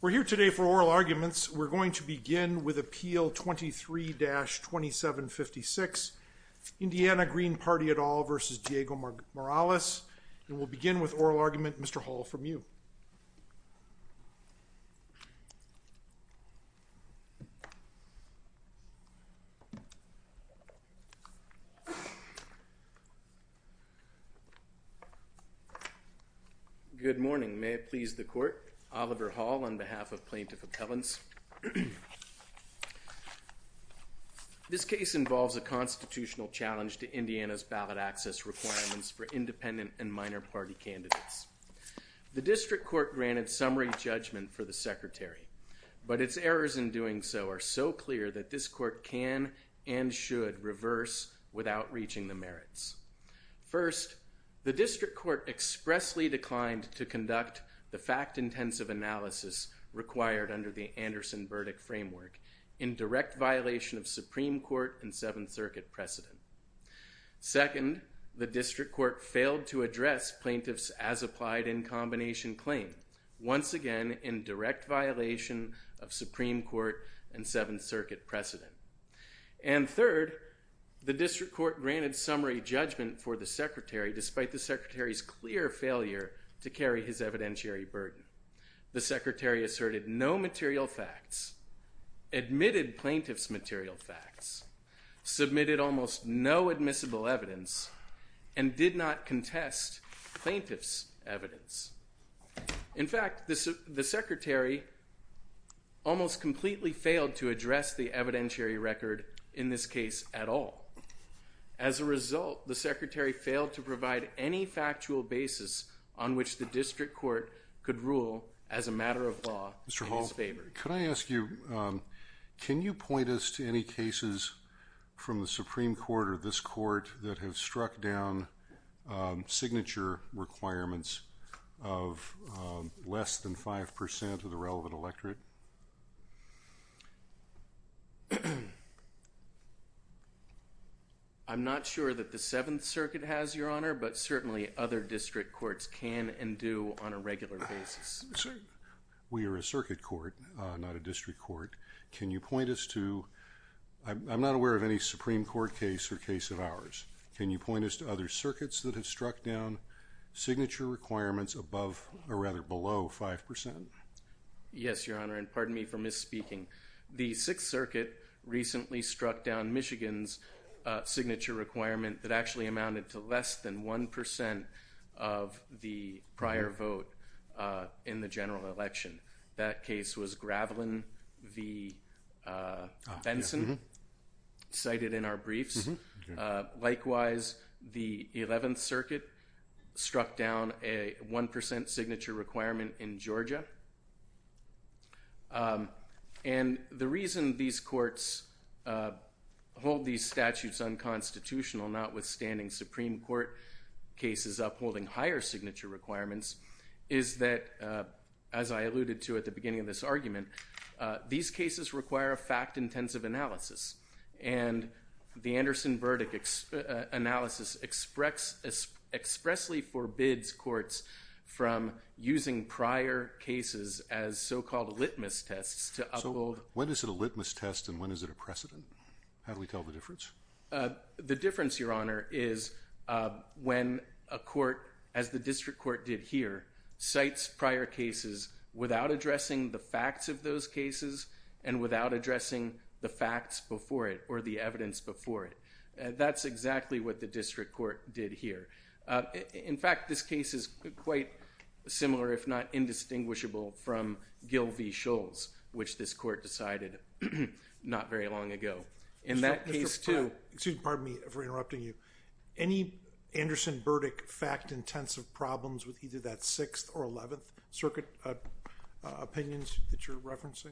We're here today for oral arguments. We're going to begin with Appeal 23-2756 Indiana Green Party et al. v. Diego Morales and we'll begin with oral argument. Mr. Hall from you. Mr. Hall Good morning. May it please the Court, Oliver Hall on behalf of Plaintiff Appellants. This case involves a constitutional challenge to Indiana's ballot access requirements for independent and minor party candidates. The reasons for doing so are so clear that this Court can and should reverse without reaching the merits. First, the District Court expressly declined to conduct the fact-intensive analysis required under the Anderson-Burdick framework in direct violation of Supreme Court and Seventh Circuit precedent. Second, the District Court failed to address plaintiffs' as-applied-in-combination claim, once again in direct violation of Supreme Court and Seventh Circuit precedent. And third, the District Court granted summary judgment for the Secretary despite the Secretary's clear failure to carry his evidentiary burden. The Secretary asserted no material facts, admitted plaintiffs' material facts, submitted almost no admissible evidence, and did not In fact, the Secretary almost completely failed to address the evidentiary record in this case at all. As a result, the Secretary failed to provide any factual basis on which the District Court could rule as a matter of law in his favor. Mr. Hall, could I ask you, can you point us to any cases from the Supreme Court or this less than 5% of the relevant electorate? I'm not sure that the Seventh Circuit has, Your Honor, but certainly other District Courts can and do on a regular basis. We are a Circuit Court, not a District Court. Can you point us to, I'm not aware of any Supreme Court case or case of ours. Can you point us to other circuits that have struck down signature requirements above or rather below 5%? Yes, Your Honor, and pardon me for misspeaking. The Sixth Circuit recently struck down Michigan's signature requirement that actually amounted to less than 1% of the prior vote in the general election. That case was Gravelin v. Benson, cited in our briefs. Likewise, the Eleventh Circuit struck down a 1% signature requirement in Georgia. And the reason these courts hold these statutes unconstitutional, notwithstanding Supreme Court cases upholding higher signature requirements, is that, as I alluded to at the beginning of this argument, these cases expressly forbids courts from using prior cases as so-called litmus tests to uphold... So when is it a litmus test and when is it a precedent? How do we tell the difference? The difference, Your Honor, is when a court, as the District Court did here, cites prior cases without addressing the facts of those cases and without addressing the facts before it or the evidence before it. That's exactly what the District Court did here. In fact, this case is quite similar, if not indistinguishable, from Gill v. Scholes, which this court decided not very long ago. In that case, too... Excuse me, pardon me for interrupting you. Any Anderson-Burdick fact-intensive problems with either that Sixth or Eleventh Circuit opinions that you're referencing?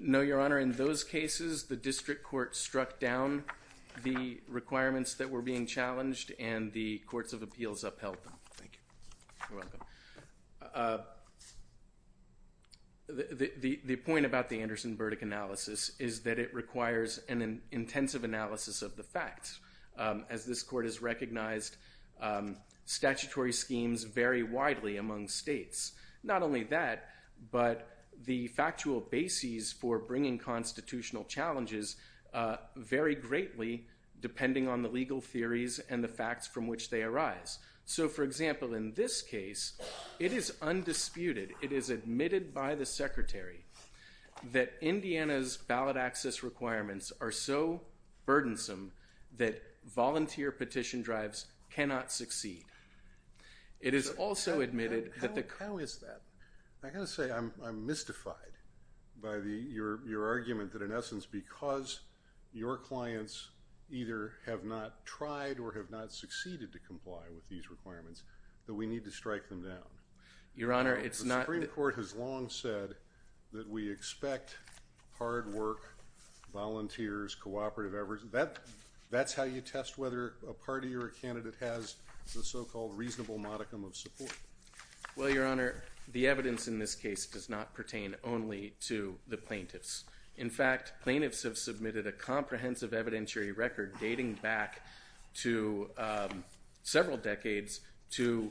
No, Your Honor. In those cases, the District Court struck down the requirements that were being challenged and the Courts of Appeals upheld them. Thank you. You're welcome. The point about the Anderson-Burdick analysis is that it requires an intensive analysis of the facts. As this court has recognized, statutory schemes vary widely among states. Not only that, but the factual bases for bringing constitutional challenges vary greatly depending on the legal theories and the facts from which they arise. For example, in this case, it is undisputed, it is admitted by the Secretary, that Indiana's ballot access requirements are so burdensome that volunteer petition drives cannot succeed. It is also admitted that the... How is that? I've got to say, I'm mystified by your argument that in essence because your clients either have not tried or have not succeeded to comply with these requirements that we need to strike them down. Your Honor, it's not... The Supreme Court has long said that we expect hard work, volunteers, cooperative efforts. That's how you test whether a party or a candidate has the so-called reasonable modicum of support. Well, Your Honor, the evidence in this case does not pertain only to the plaintiffs. In fact, plaintiffs have submitted a comprehensive evidentiary record dating back to several decades to,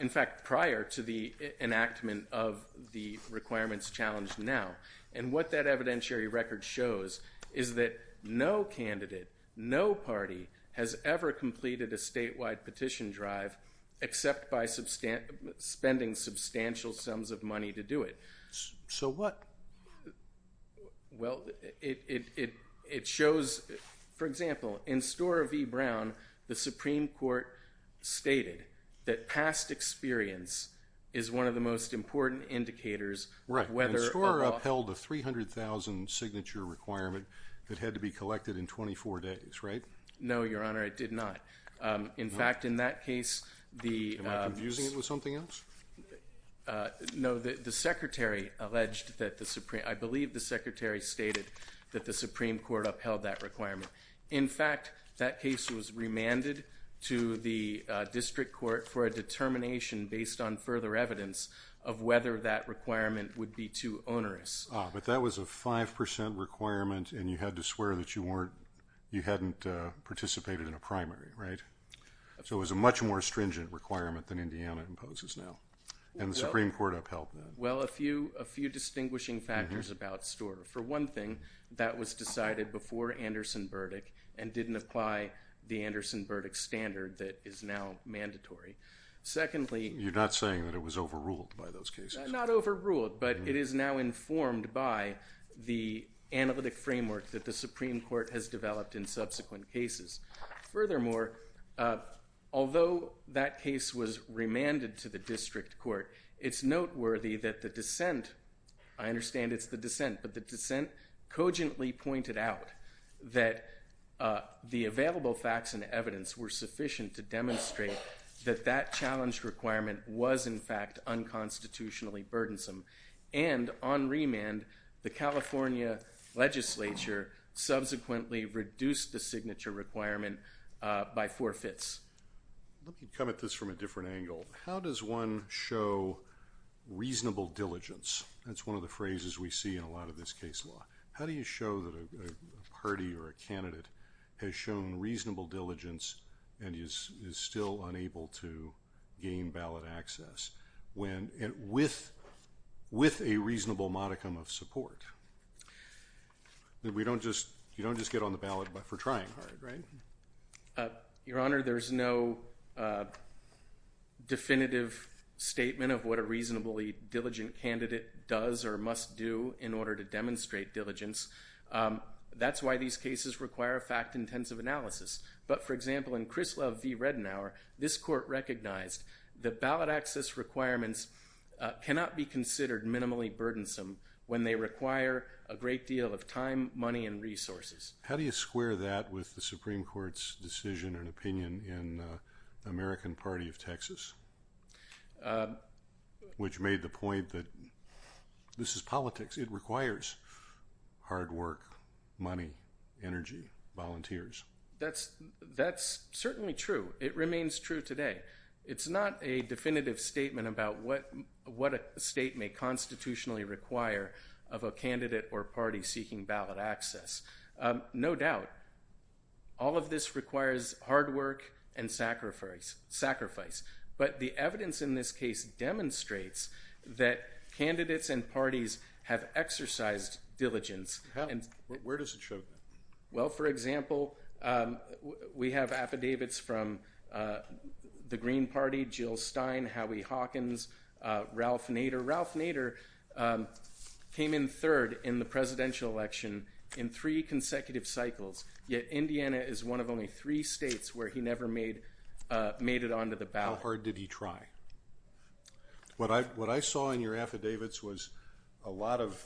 in fact, prior to the enactment of the requirements challenged now. And what that evidentiary record shows is that no candidate, no party, has ever completed a statewide petition drive except by spending substantial sums of money to do it. So what? Well, it shows... For example, in Storer v. Brown, the Supreme Court stated that past experience is one of the most important indicators of whether a law... Upheld a 300,000 signature requirement that had to be collected in 24 days, right? No, Your Honor, it did not. In fact, in that case, the... Am I confusing it with something else? No, the Secretary alleged that the Supreme... I believe the Secretary stated that the Supreme Court upheld that requirement. In fact, that case was remanded to the District Court for a determination based on further evidence of whether that requirement would be too onerous. Ah, but that was a 5% requirement and you had to swear that you weren't... You hadn't participated in a primary, right? So it was a much more stringent requirement than Indiana imposes now. And the Supreme Court upheld that. Well, a few distinguishing factors about Storer. For one thing, that was decided before Anderson Burdick and didn't apply the Anderson Burdick standard that is now mandatory. Secondly... You're not saying that it was overruled by those cases? Not overruled, but it is now informed by the analytic framework that the Supreme Court has developed in subsequent cases. Furthermore, although that case was remanded to the District Court, it's noteworthy that the dissent... I understand it's the dissent, but the dissent cogently pointed out that the available facts and evidence were sufficient to demonstrate that that challenge requirement was in fact unconstitutionally burdensome. And on remand, the California legislature subsequently reduced the signature requirement by four-fifths. Let me come at this from a different angle. How does one show reasonable diligence? That's one of the phrases we see in a lot of this case law. How do you show that a party or an organization is unable to gain ballot access when... with a reasonable modicum of support? We don't just... You don't just get on the ballot for trying hard, right? Your Honor, there's no definitive statement of what a reasonably diligent candidate does or must do in order to demonstrate diligence. That's why these cases require fact-intensive analysis. But, for example, in Krislov v. Redenauer, this Court recognized that ballot access requirements cannot be considered minimally burdensome when they require a great deal of time, money, and resources. How do you square that with the Supreme Court's decision and opinion in the American Party of Texas, which made the point that this is politics. It requires hard work, money, energy, volunteers. That's certainly true. It remains true today. It's not a definitive statement about what a state may constitutionally require of a candidate or party seeking ballot access. No doubt, all of this requires hard work and sacrifice. But the evidence in this case demonstrates that candidates and parties have absolutely exercised diligence. Where does it show that? Well, for example, we have affidavits from the Green Party, Jill Stein, Howie Hawkins, Ralph Nader. Ralph Nader came in third in the presidential election in three consecutive cycles, yet Indiana is one of only three states where he never made it onto the ballot. How hard did he try? What I saw in your affidavits was a lot of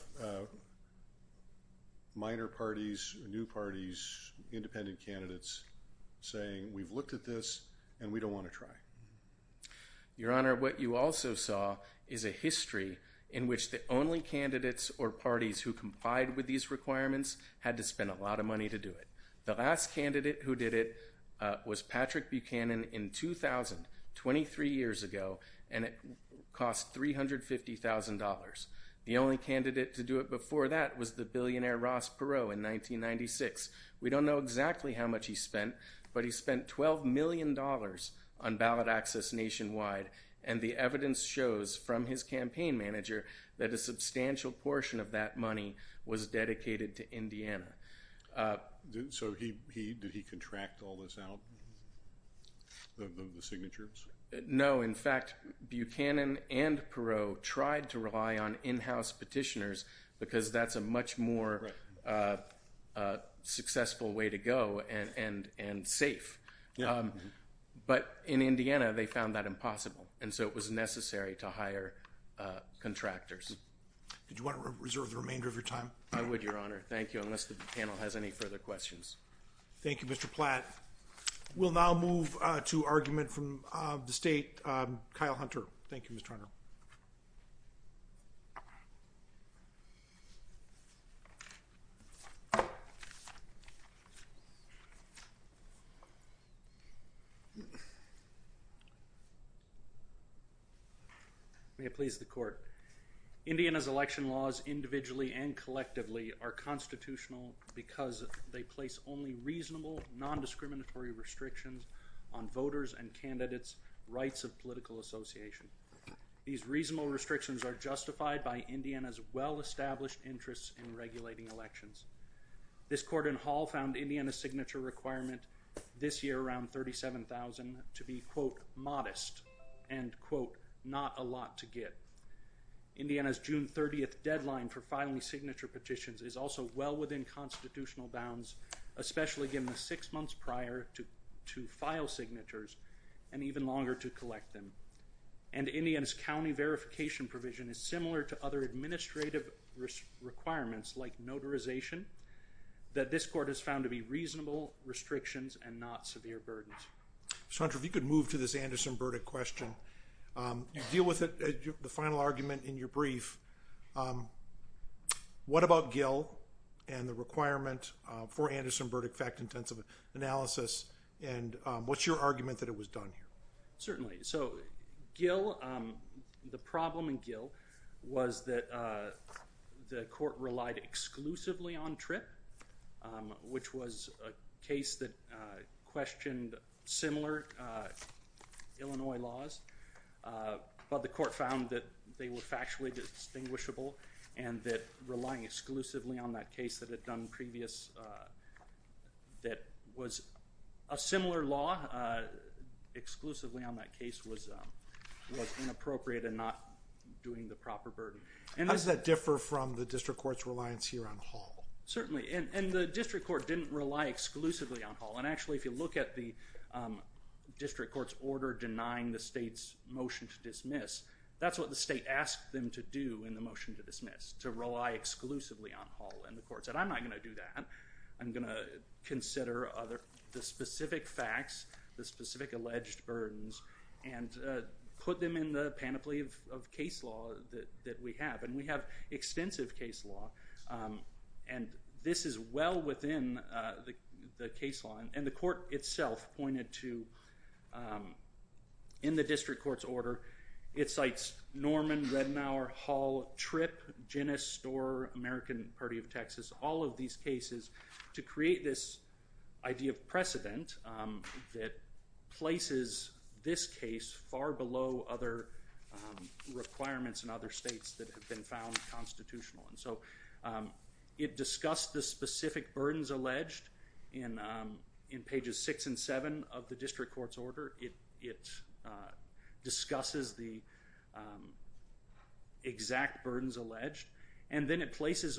minor parties, new parties, independent candidates saying, we've looked at this and we don't want to try. Your Honor, what you also saw is a history in which the only candidates or parties who complied with these requirements had to spend a lot of money to do it. The last candidate who did it was Patrick Buchanan in 2000, 23 years ago, and it cost $350,000. The only candidate to do it before that was the billionaire Ross Perot in 1996. We don't know exactly how much he spent, but he spent $12 million on ballot access nationwide, and the evidence shows from his campaign manager that a substantial portion of that money was dedicated to Indiana. So did he contract all this out, the signatures? No. In fact, Buchanan and Perot tried to rely on in-house petitioners because that's a much more successful way to go and safe. But in Indiana, they found that impossible, and so it was necessary to hire contractors. Did you want to reserve the remainder of your time? I would, Your Honor. Thank you, unless the panel has any further questions. Thank you. The next witness of the state, Kyle Hunter. Thank you, Mr. Hunter. May it please the Court. Indiana's election laws, individually and collectively, are constitutional because they place only reasonable, nondiscriminatory restrictions on voters and candidates' rights of political association. These reasonable restrictions are justified by Indiana's well-established interests in regulating elections. This Court in Hall found Indiana's signature requirement this year, around 37,000, to be, quote, modest, and, quote, not a lot to get. Indiana's June 30th deadline for filing signature petitions is also well within constitutional bounds, especially given the six months prior to file signatures, and even longer to collect them. And Indiana's county verification provision is similar to other administrative requirements, like notarization, that this Court has found to be reasonable restrictions and not severe burdens. Mr. Hunter, if you could move to this Anderson-Burdick question. You deal with the final argument in your brief. What about Gill and the requirement for Anderson-Burdick fact-intensive analysis, and what's your argument that it was done here? Certainly. So, Gill, the problem in Gill was that the Court relied exclusively on TRIP, which was a case that the Court found that they were factually distinguishable, and that relying exclusively on that case that it had done previous, that was a similar law, exclusively on that case was inappropriate and not doing the proper burden. How does that differ from the District Court's reliance here on Hall? Certainly. And the District Court didn't rely exclusively on Hall. And actually, if you look at the District Court's order denying the state's motion to dismiss, that's what the state asked them to do in the motion to dismiss, to rely exclusively on Hall. And the Court said, I'm not going to do that. I'm going to consider the specific facts, the specific alleged burdens, and put them in the panoply of case law that we have. And we have extensive case law, and this is well within the case law. And the Court itself pointed to, in the District Court's order, it cites Norman, Redmauer, Hall, TRIP, Ginnis, Storer, American Party of Texas, all of these cases to create this idea of precedent that places this case far below other requirements in other states that in pages 6 and 7 of the District Court's order, it discusses the exact burdens alleged, and then it places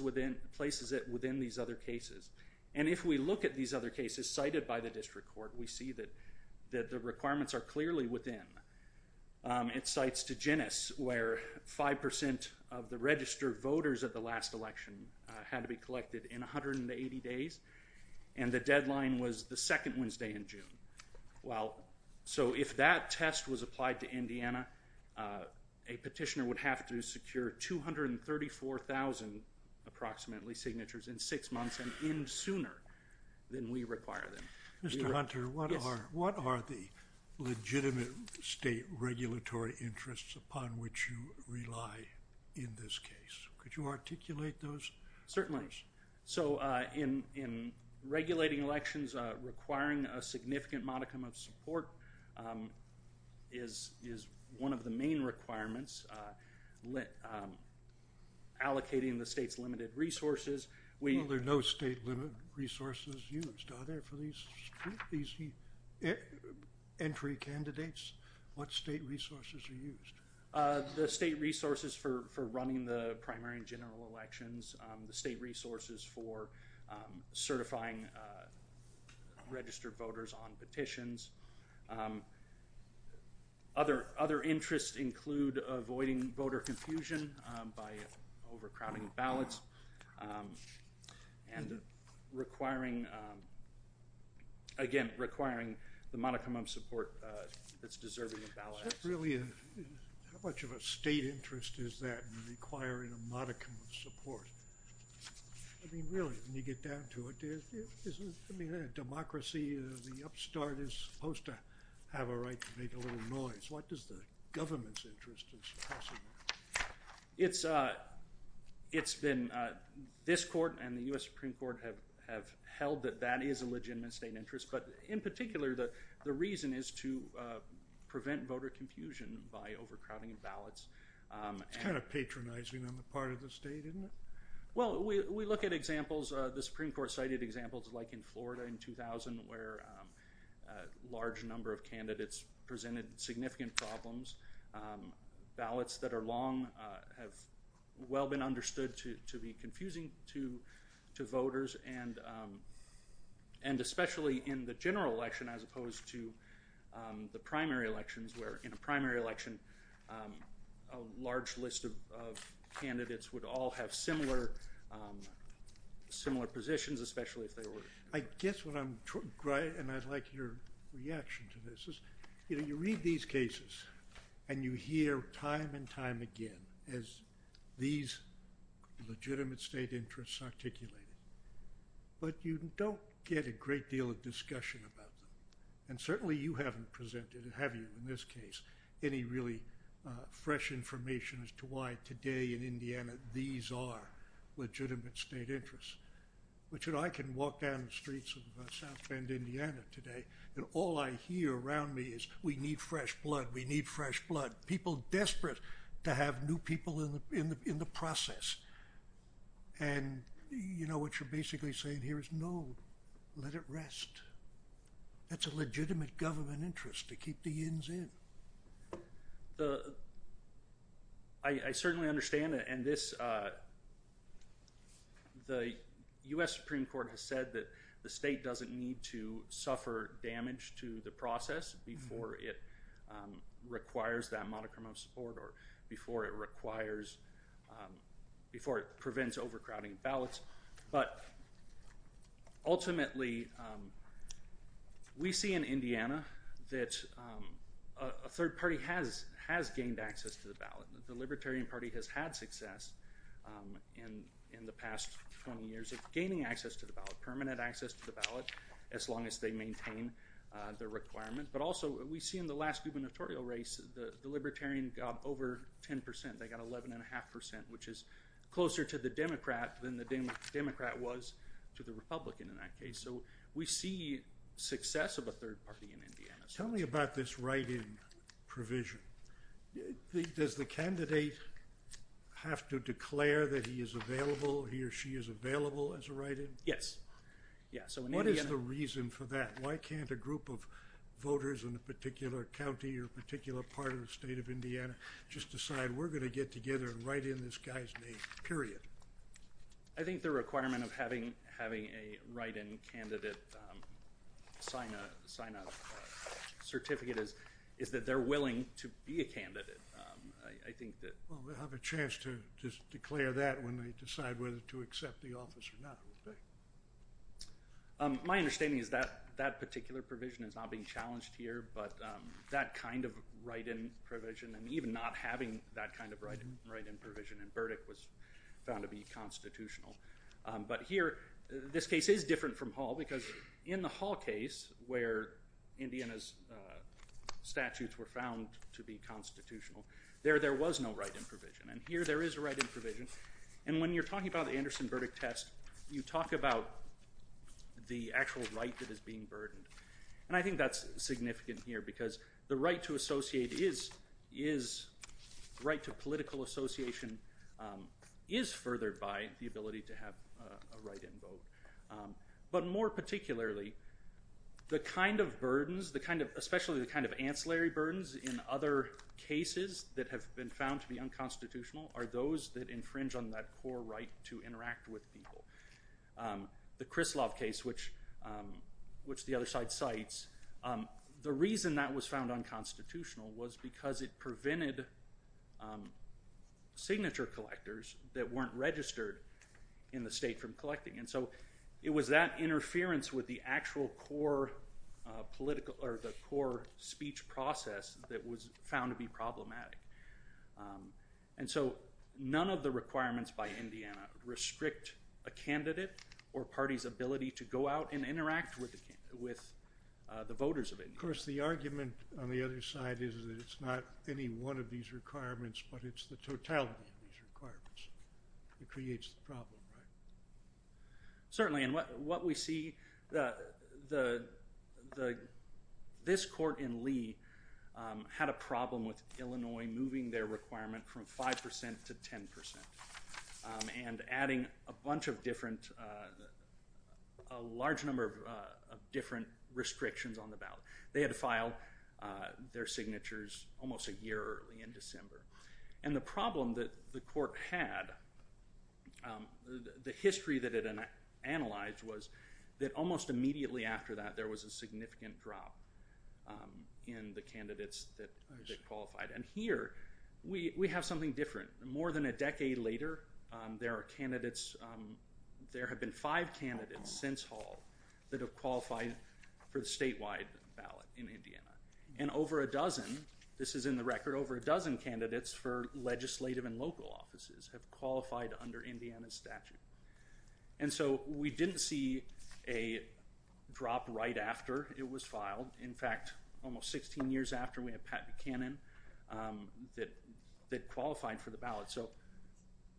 it within these other cases. And if we look at these other cases cited by the District Court, we see that the requirements are clearly within. It cites to Ginnis where 5% of the registered voters of the last election had to be collected in 180 days, and the deadline was the second Wednesday in June. Well, so if that test was applied to Indiana, a petitioner would have to secure 234,000 approximately signatures in 6 months, and even sooner than we require them. Mr. Hunter, what are the legitimate state regulatory interests upon which you rely in this case? Could you articulate those? Certainly. So in regulating elections, requiring a significant modicum of support is one of the main requirements. Allocating the state's limited resources, we Well, there are no state limited resources used. Are there for these entry candidates? What state resources are used? The state resources for running the primary and general elections, the state resources for certifying registered voters on petitions. Other interests include avoiding voter confusion by overcrowding ballots, and requiring, again, requiring the modicum of support that's How much of a state interest is that in requiring a modicum of support? I mean, really, when you get down to it, isn't democracy, the upstart, is supposed to have a right to make a little noise? What does the government's interest in suppressing? It's been, this court and the U.S. Supreme Court have held that that is a legitimate state interest, but in particular, the reason is to prevent voter confusion by overcrowding ballots. It's kind of patronizing on the part of the state, isn't it? Well, we look at examples, the Supreme Court cited examples like in Florida in 2000, where a large number of candidates presented significant problems. Ballots that are long have well been understood to be confusing to voters, and especially in the general election, as opposed to the primary elections, where in a primary election, a large list of candidates would all have similar positions, especially if they were- I guess what I'm, and I'd like your reaction to this is, you read these cases, and you hear time and time again, as these legitimate state interests articulated, but you don't get a great deal of discussion about them, and certainly you haven't presented, have you in this case, any really fresh information as to why today in Indiana these are legitimate state interests, which I can walk down the streets of South Bend, Indiana today, and all I hear around me is, we need fresh blood, we need fresh blood, people desperate to have new people in the process, and you know what you're basically saying here is, no, let it rest. That's a legitimate government interest, to keep the yin's in. I certainly understand, and this, the U.S. Supreme Court has said that the state doesn't need to suffer damage to the process before it requires that modicum of support or before it requires, before it prevents overcrowding ballots, but ultimately we see in Indiana that a third party has gained access to the ballot. The Libertarian Party has had success in the past 20 years of gaining access to the ballot, permanent access to the ballot, as long as they maintain their requirement, but also we see in the last gubernatorial race, the Libertarian got over 10%, they got 11.5%, which is closer to the Democrat than the Democrat was to the Republican in that case, so we see success of a third party in Indiana. Tell me about this write-in provision. Does the candidate have to declare that he is available, he or she is available as a write-in? Yes. What is the reason for that? Why can't a group of voters in a particular county or a particular part of the state of Indiana just decide we're going to get together and write in this guy's name, period? I think the requirement of having a write-in candidate sign a certificate is that they're willing to be a candidate. They'll have a chance to declare that when they decide whether to accept the office or not. My understanding is that that particular provision is not being challenged here, but that kind of write-in provision and even not having that kind of write-in provision in Burdick was found to be constitutional. But here, this case is different from Hall because in the Hall case, where Indiana's statutes were found to be constitutional, there was no write-in provision. Here, there is a write-in provision. When you're talking about the Anderson Burdick test, you talk about the actual right that is being burdened. I think that's significant here because the right to political association is furthered by the ability to have a write-in vote. But more particularly, the kind of burdens, especially the kind of ancillary burdens in other cases that have been found to be unconstitutional are those that infringe on that core right to interact with people. The Krislov case, which the other side cites, the reason that was found unconstitutional was because it prevented signature collectors that weren't registered in the state from voting. It was that interference with the actual core speech process that was found to be problematic. And so, none of the requirements by Indiana restrict a candidate or party's ability to go out and interact with the voters of Indiana. Of course, the argument on the other side is that it's not any one of these requirements, but it's the totality of these requirements that creates the problem, right? Certainly, and what we see, this court in Lee had a problem with Illinois moving their requirement from 5% to 10% and adding a bunch of different, a large number of different restrictions on the ballot. They had to file their signatures almost a year early in December. And the problem that the court had, the history that it analyzed was that almost immediately after that, there was a significant drop in the candidates that qualified. And here, we have something different. More than a decade later, there are candidates, there have been five candidates since Hall that have qualified for the statewide ballot in Indiana. And over a dozen, this is in the record, over a dozen candidates for legislative and local offices have qualified under Indiana's statute. And so, we didn't see a drop right after it was filed. In fact, almost 16 years after, we had Pat Buchanan that qualified for the ballot. So,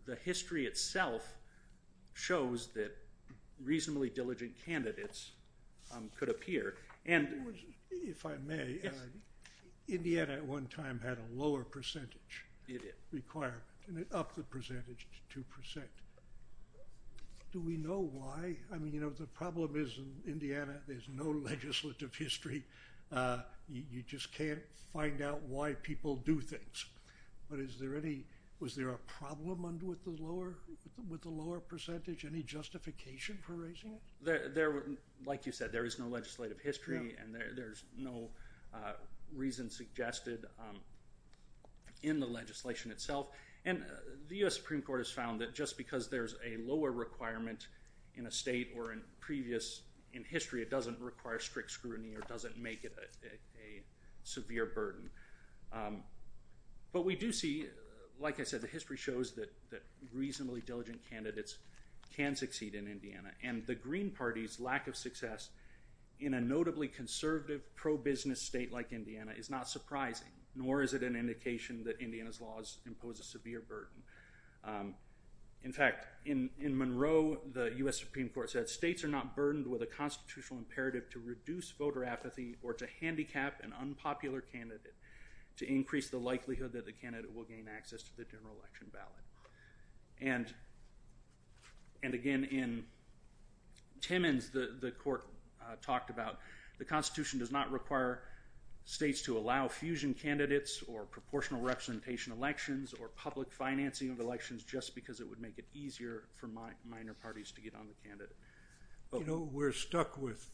the history itself shows that reasonably diligent candidates could appear. If I may, Indiana at one time had a lower percentage requirement and it upped the percentage to 2%. Do we know why? I mean, you know, the problem is in Indiana, there's no legislative history. You just can't find out why people do things. But is there any, was there a problem with the lower percentage? Any justification for raising it? Like you said, there is no legislative history and there's no reason suggested in the legislation itself. And the U.S. Supreme Court has found that just because there's a lower requirement in a state or in previous, in history, it doesn't require strict scrutiny or doesn't make it a severe burden. But we do see, like I said, the history shows that reasonably diligent candidates can succeed in Indiana. And the Green Party's lack of success in a notably conservative, pro-business state like Indiana is not surprising, nor is it an indication that Indiana's laws impose a severe burden. In fact, in Monroe, the U.S. Supreme Court said, states are not burdened with a constitutional imperative to reduce voter apathy or to handicap an unpopular candidate to increase the likelihood that the candidate will gain access to the general election ballot. And again, in Timmins, the court talked about the Constitution does not require states to allow fusion candidates or proportional representation elections or public financing of elections just because it would make it easier for minor parties to get on the candidate. You know, we're stuck with,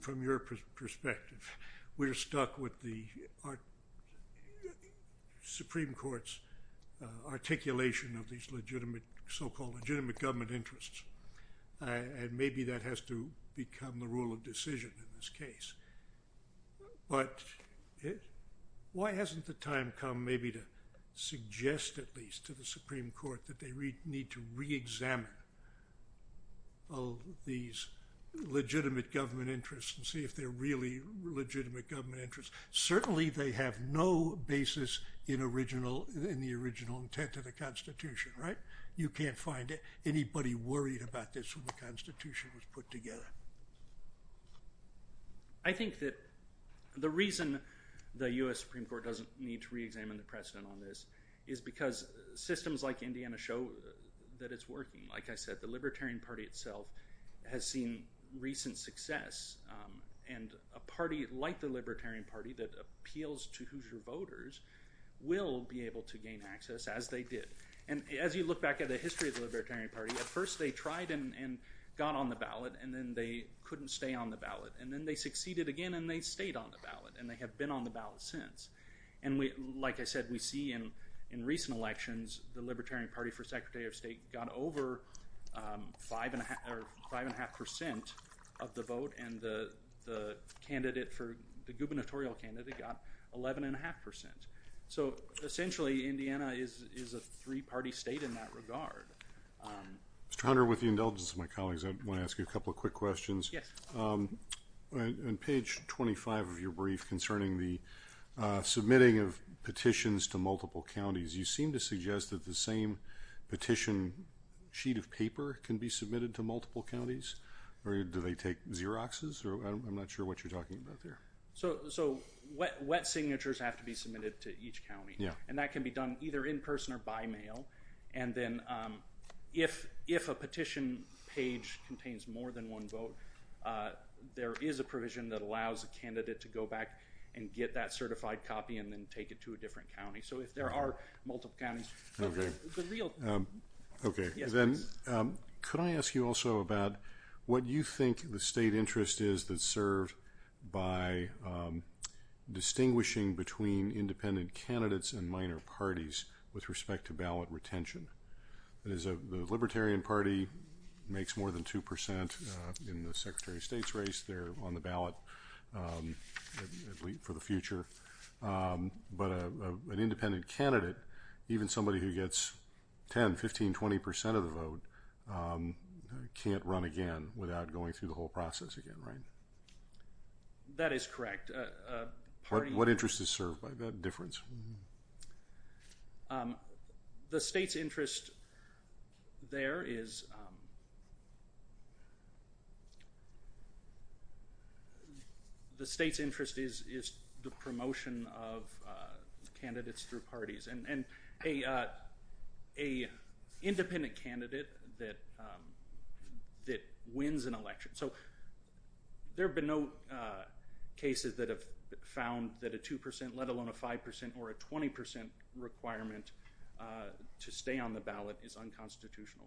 from your perspective, we're stuck with the Supreme Court's articulation of these legitimate, so-called legitimate government interests, and maybe that has to become the rule of decision in this case. But why hasn't the time come maybe to suggest at least to the Supreme Court that they need to re-examine these legitimate government interests and see if they're really legitimate government interests? Certainly, they have no basis in the original intent of the Constitution, right? You can't find anybody worried about this when the Constitution was put together. I think that the reason the U.S. Supreme Court doesn't need to re-examine the precedent on this is because systems like Indiana show that it's working. Like I said, the Libertarian Party itself has seen recent success, and a party like the Libertarian Party that appeals to Hoosier voters will be able to gain access, as they did. And as you look back at the history of the Libertarian Party, at first they tried and got on the ballot, and then they couldn't stay on the ballot, and then they succeeded again and they stayed on the ballot, and they have been on the ballot since. And like I said, we see in recent elections the Libertarian Party for Secretary of State got over 5.5% of the vote, and the candidate for the gubernatorial candidate got 11.5%. So essentially, Indiana is a three-party state in that regard. Mr. Hunter, with the indulgence of my colleagues, I want to ask you a couple of quick questions. Yes. On page 25 of your brief concerning the submitting of petitions to multiple counties, you seem to suggest that the same petition sheet of paper can be submitted to multiple counties? Or do they take Xeroxes? I'm not sure what you're talking about there. So wet signatures have to be submitted to each county. And that can be done either in person or by mail. And then if a petition page contains more than one vote, there is a provision that allows a candidate to go back and get that certified copy and then take it to a different county. So if there are multiple counties... Okay. Okay. Then could I ask you also about what you think the state interest is that's served by distinguishing between independent candidates and minor parties with respect to ballot retention? The Libertarian Party makes more than 2% in the Secretary of State's race. They're on the ballot for the future. But an independent candidate, even somebody who gets 10%, 15%, 20% of the vote, can't run again without going through the whole process again, right? That is correct. What interest is served by that difference? The state's interest there is... The state's interest is the promotion of candidates through parties. And an independent candidate that wins an election. So there have been no cases that have found that a 2%, let alone a 5% or a 20% requirement to stay on the ballot is unconstitutional.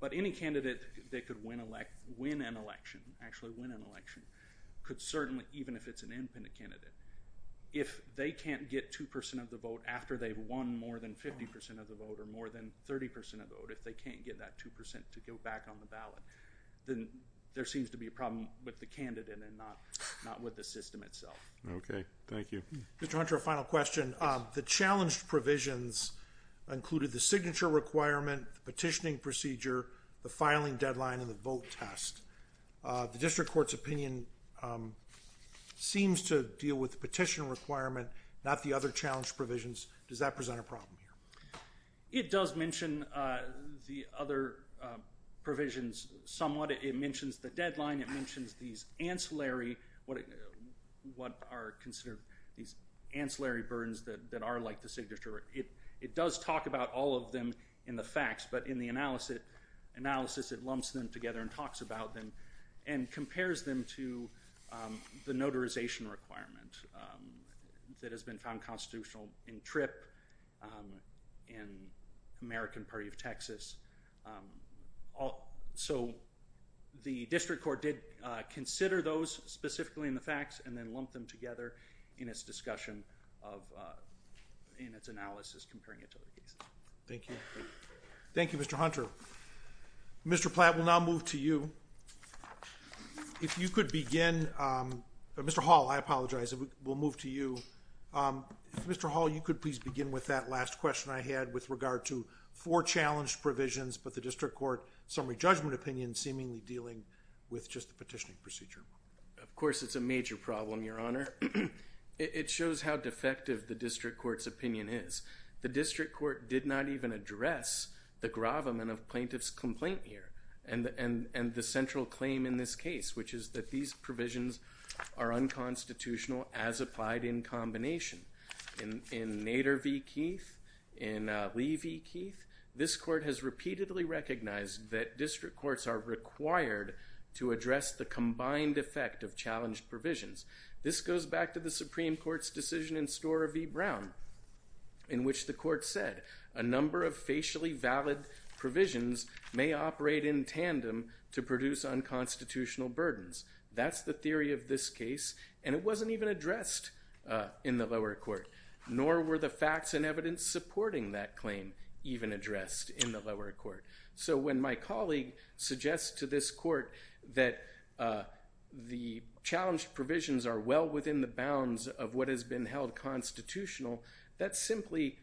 But any candidate that could win an election, actually win an election, could certainly, even if it's an independent candidate, if they can't get 2% of the vote after they've won more than 50% of the vote or more than 30% of the vote, if they can't get that 2% to go back on the ballot, then there seems to be a problem with the candidate and not with the system itself. Okay. Thank you. Mr. Hunter, a final question. The challenged provisions included the signature requirement, the petitioning procedure, the filing deadline, and the vote test. The district court's opinion seems to deal with the petition requirement, not the other challenge provisions. Does that present a problem here? It does mention the other provisions somewhat. It mentions the deadline. It mentions these ancillary, what are considered these ancillary burdens that are like the signature. It does talk about all of them in the facts, but in the analysis it lumps them together and talks about them and compares them to the notarization requirement that has been found constitutional in TRIP and American Party of Texas. So the district court did consider those specifically in the facts and then lumped them together in its discussion of in its analysis comparing it to other cases. Thank you. Thank you, Mr. Hunter. Mr. Platt, we'll now move to you. If you could begin. Mr. Hall, I apologize. We'll move to you. Mr. Hall, you could please begin with that last question I had with regard to four challenged provisions, but the district court summary judgment opinion seemingly dealing with just the petitioning procedure. Of course, it's a major problem, Your Honor. It shows how defective the district court's opinion is. The district court did not even address the gravamen of plaintiff's complaint here and the central claim in this case, which is that these provisions are unconstitutional as applied in combination. In Nader v. Keith, in Lee v. Keith, this court has repeatedly recognized that district courts are required to address the combined effect of challenged provisions. This goes back to the Supreme Court's decision in Stora v. Brown in which the court said a number of facially valid provisions may operate in tandem to produce unconstitutional burdens. That's the theory of this case, and it wasn't even addressed in the lower court, nor were the facts and evidence supporting that claim even addressed in the lower court. So when my colleague suggests to this court that the challenged provisions are well within the bounds of what has been held constitutional, that's simply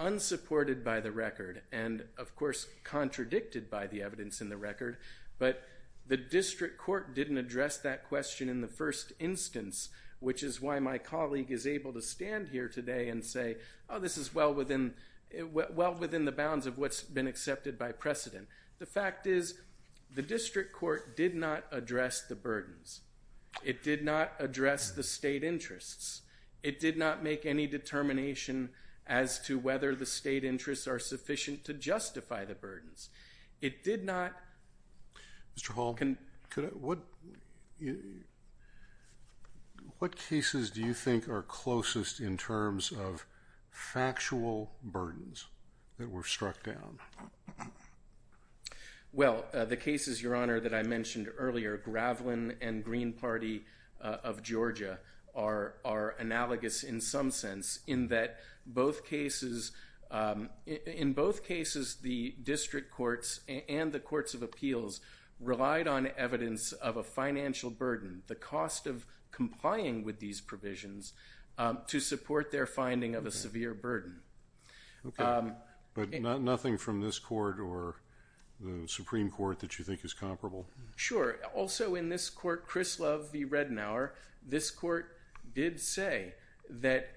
unsupported by the record and, of course, contradicted by the evidence in the record. But the district court didn't address that question in the first instance, which is why my colleague is able to stand here today and say, oh, this is well within the bounds of what's been accepted by precedent. It did not address the state interests. It did not make any determination as to whether the state interests are sufficient to justify the burdens. It did not... Mr. Hall, what cases do you think are closest in terms of factual burdens that were struck down? Well, the cases, Your Honor, that I mentioned earlier, Gravelin and Green Party of Georgia, are analogous in some sense in that in both cases the district courts and the courts of appeals relied on evidence of a financial burden, the cost of complying with these provisions to support their finding of a severe burden. Okay, but nothing from this court or the Supreme Court that you think is comparable? Sure. Also in this court, Krislov v. Redenauer, this court did say that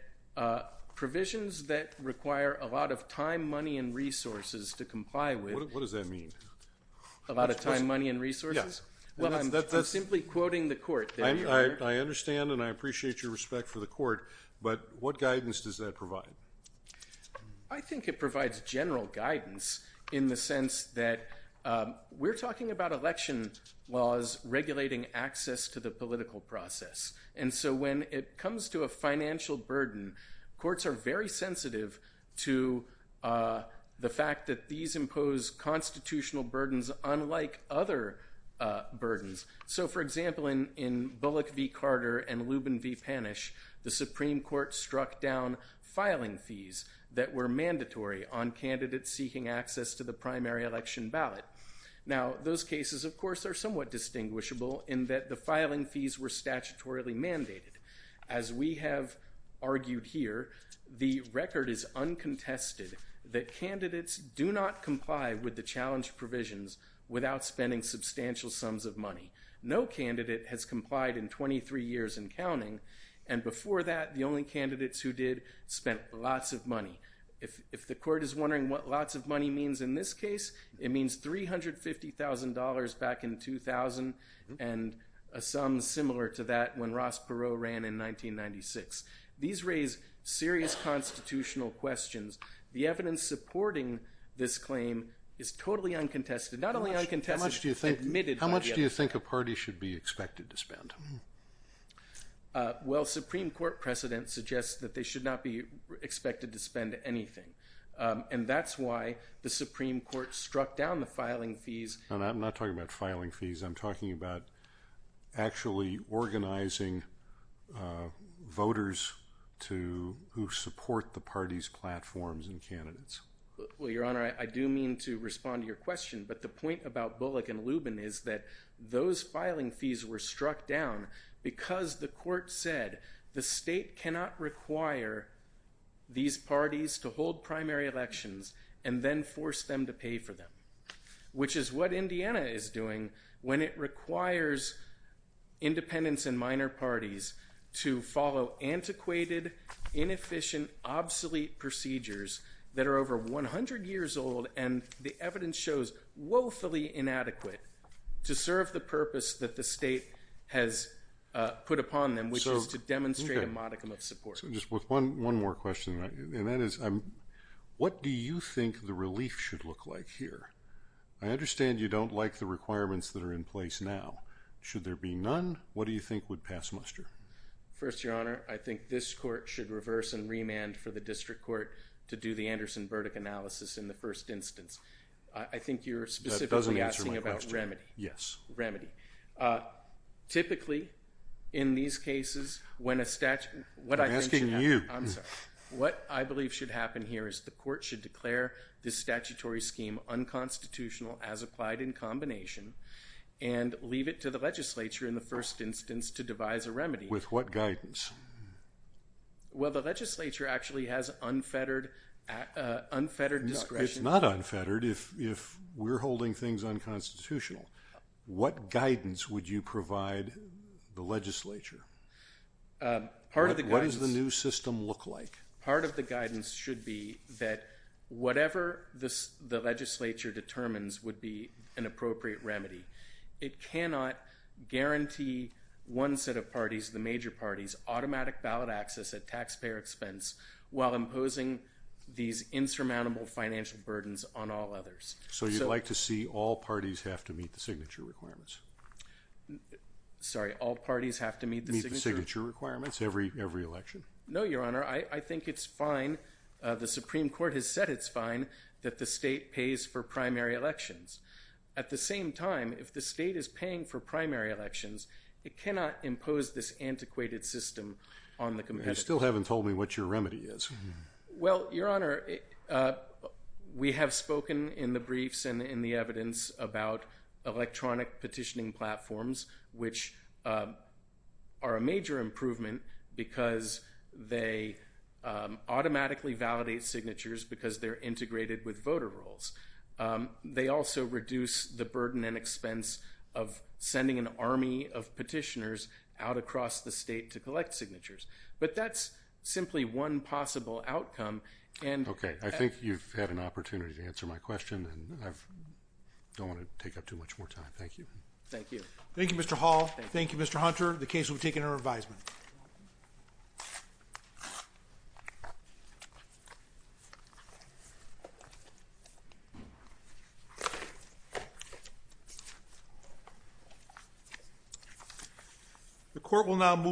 provisions that require a lot of time, money, and resources to comply with... What does that mean? A lot of time, money, and resources? Yes. Well, I'm simply quoting the court there, Your Honor. I understand and I appreciate your respect for the court, but what guidance does that provide? I think it provides general guidance in the sense that we're talking about election laws regulating access to the political process, and so when it comes to a financial burden, courts are very sensitive to the fact that these impose constitutional burdens unlike other burdens. So, for example, in Bullock v. Carter and Lubin v. Panish, the Supreme Court struck down filing fees that were mandatory on candidates seeking access to the primary election ballot. Now, those cases, of course, are somewhat distinguishable in that the filing fees were statutorily mandated. As we have argued here, the record is uncontested that candidates do not comply with the challenge provisions without spending substantial sums of money. No candidate has complied in 23 years and counting, and before that, the only candidates who did spent lots of money. If the court is wondering what lots of money means in this case, it means $350,000 back in 2000 and a sum similar to that when Ross Perot ran in 1996. These raise serious constitutional questions. The evidence supporting this claim is totally uncontested. Not only uncontested, admitted by the other party. How much do you think a party should be expected to spend? Well, Supreme Court precedent suggests that they should not be expected to spend anything, and that's why the Supreme Court struck down the filing fees. I'm not talking about filing fees. I'm talking about actually organizing voters who support the party's platforms and candidates. Well, Your Honor, I do mean to respond to your question, but the point about Bullock and Lubin is that those filing fees were struck down because the court said the state cannot require these parties to hold primary elections and then force them to pay for them, which is what Indiana is doing when it requires independents and minor parties to follow antiquated, inefficient, obsolete procedures that are over 100 years old and the evidence shows woefully inadequate to serve the purpose that the state has put upon them, which is to demonstrate a modicum of support. Just one more question, and that is, what do you think the relief should look like here? I understand you don't like the requirements that are in place now. Should there be none, what do you think would pass muster? First, Your Honor, I think this court should reverse and remand for the district court to do the Anderson-Burdick analysis in the first instance. I think you're specifically asking about remedy. Yes. Remedy. Typically, in these cases, when a statute… I'm asking you. I'm sorry. What I believe should happen here is the court should declare this statutory scheme unconstitutional as applied in combination and leave it to the legislature in the first instance to devise a remedy. With what guidance? Well, the legislature actually has unfettered discretion. It's not unfettered if we're holding things unconstitutional. What guidance would you provide the legislature? Part of the guidance… What does the new system look like? Part of the guidance should be that whatever the legislature determines would be an appropriate remedy. It cannot guarantee one set of parties, the major parties, automatic ballot access at taxpayer expense while imposing these insurmountable financial burdens on all others. So you'd like to see all parties have to meet the signature requirements? Sorry. All parties have to meet the signature… Meet the signature requirements every election? No, Your Honor. I think it's fine. The Supreme Court has said it's fine that the state pays for primary elections. At the same time, if the state is paying for primary elections, it cannot impose this antiquated system on the competitors. You still haven't told me what your remedy is. Well, Your Honor, we have spoken in the briefs and in the evidence about electronic petitioning platforms, which are a major improvement because they automatically validate signatures because they're integrated with voter rolls. They also reduce the burden and expense of sending an army of petitioners out across the state to collect signatures. But that's simply one possible outcome. Okay, I think you've had an opportunity to answer my question, and I don't want to take up too much more time. Thank you. Thank you. Thank you, Mr. Hall. Thank you, Mr. Hunter. The case will be taken under advisement.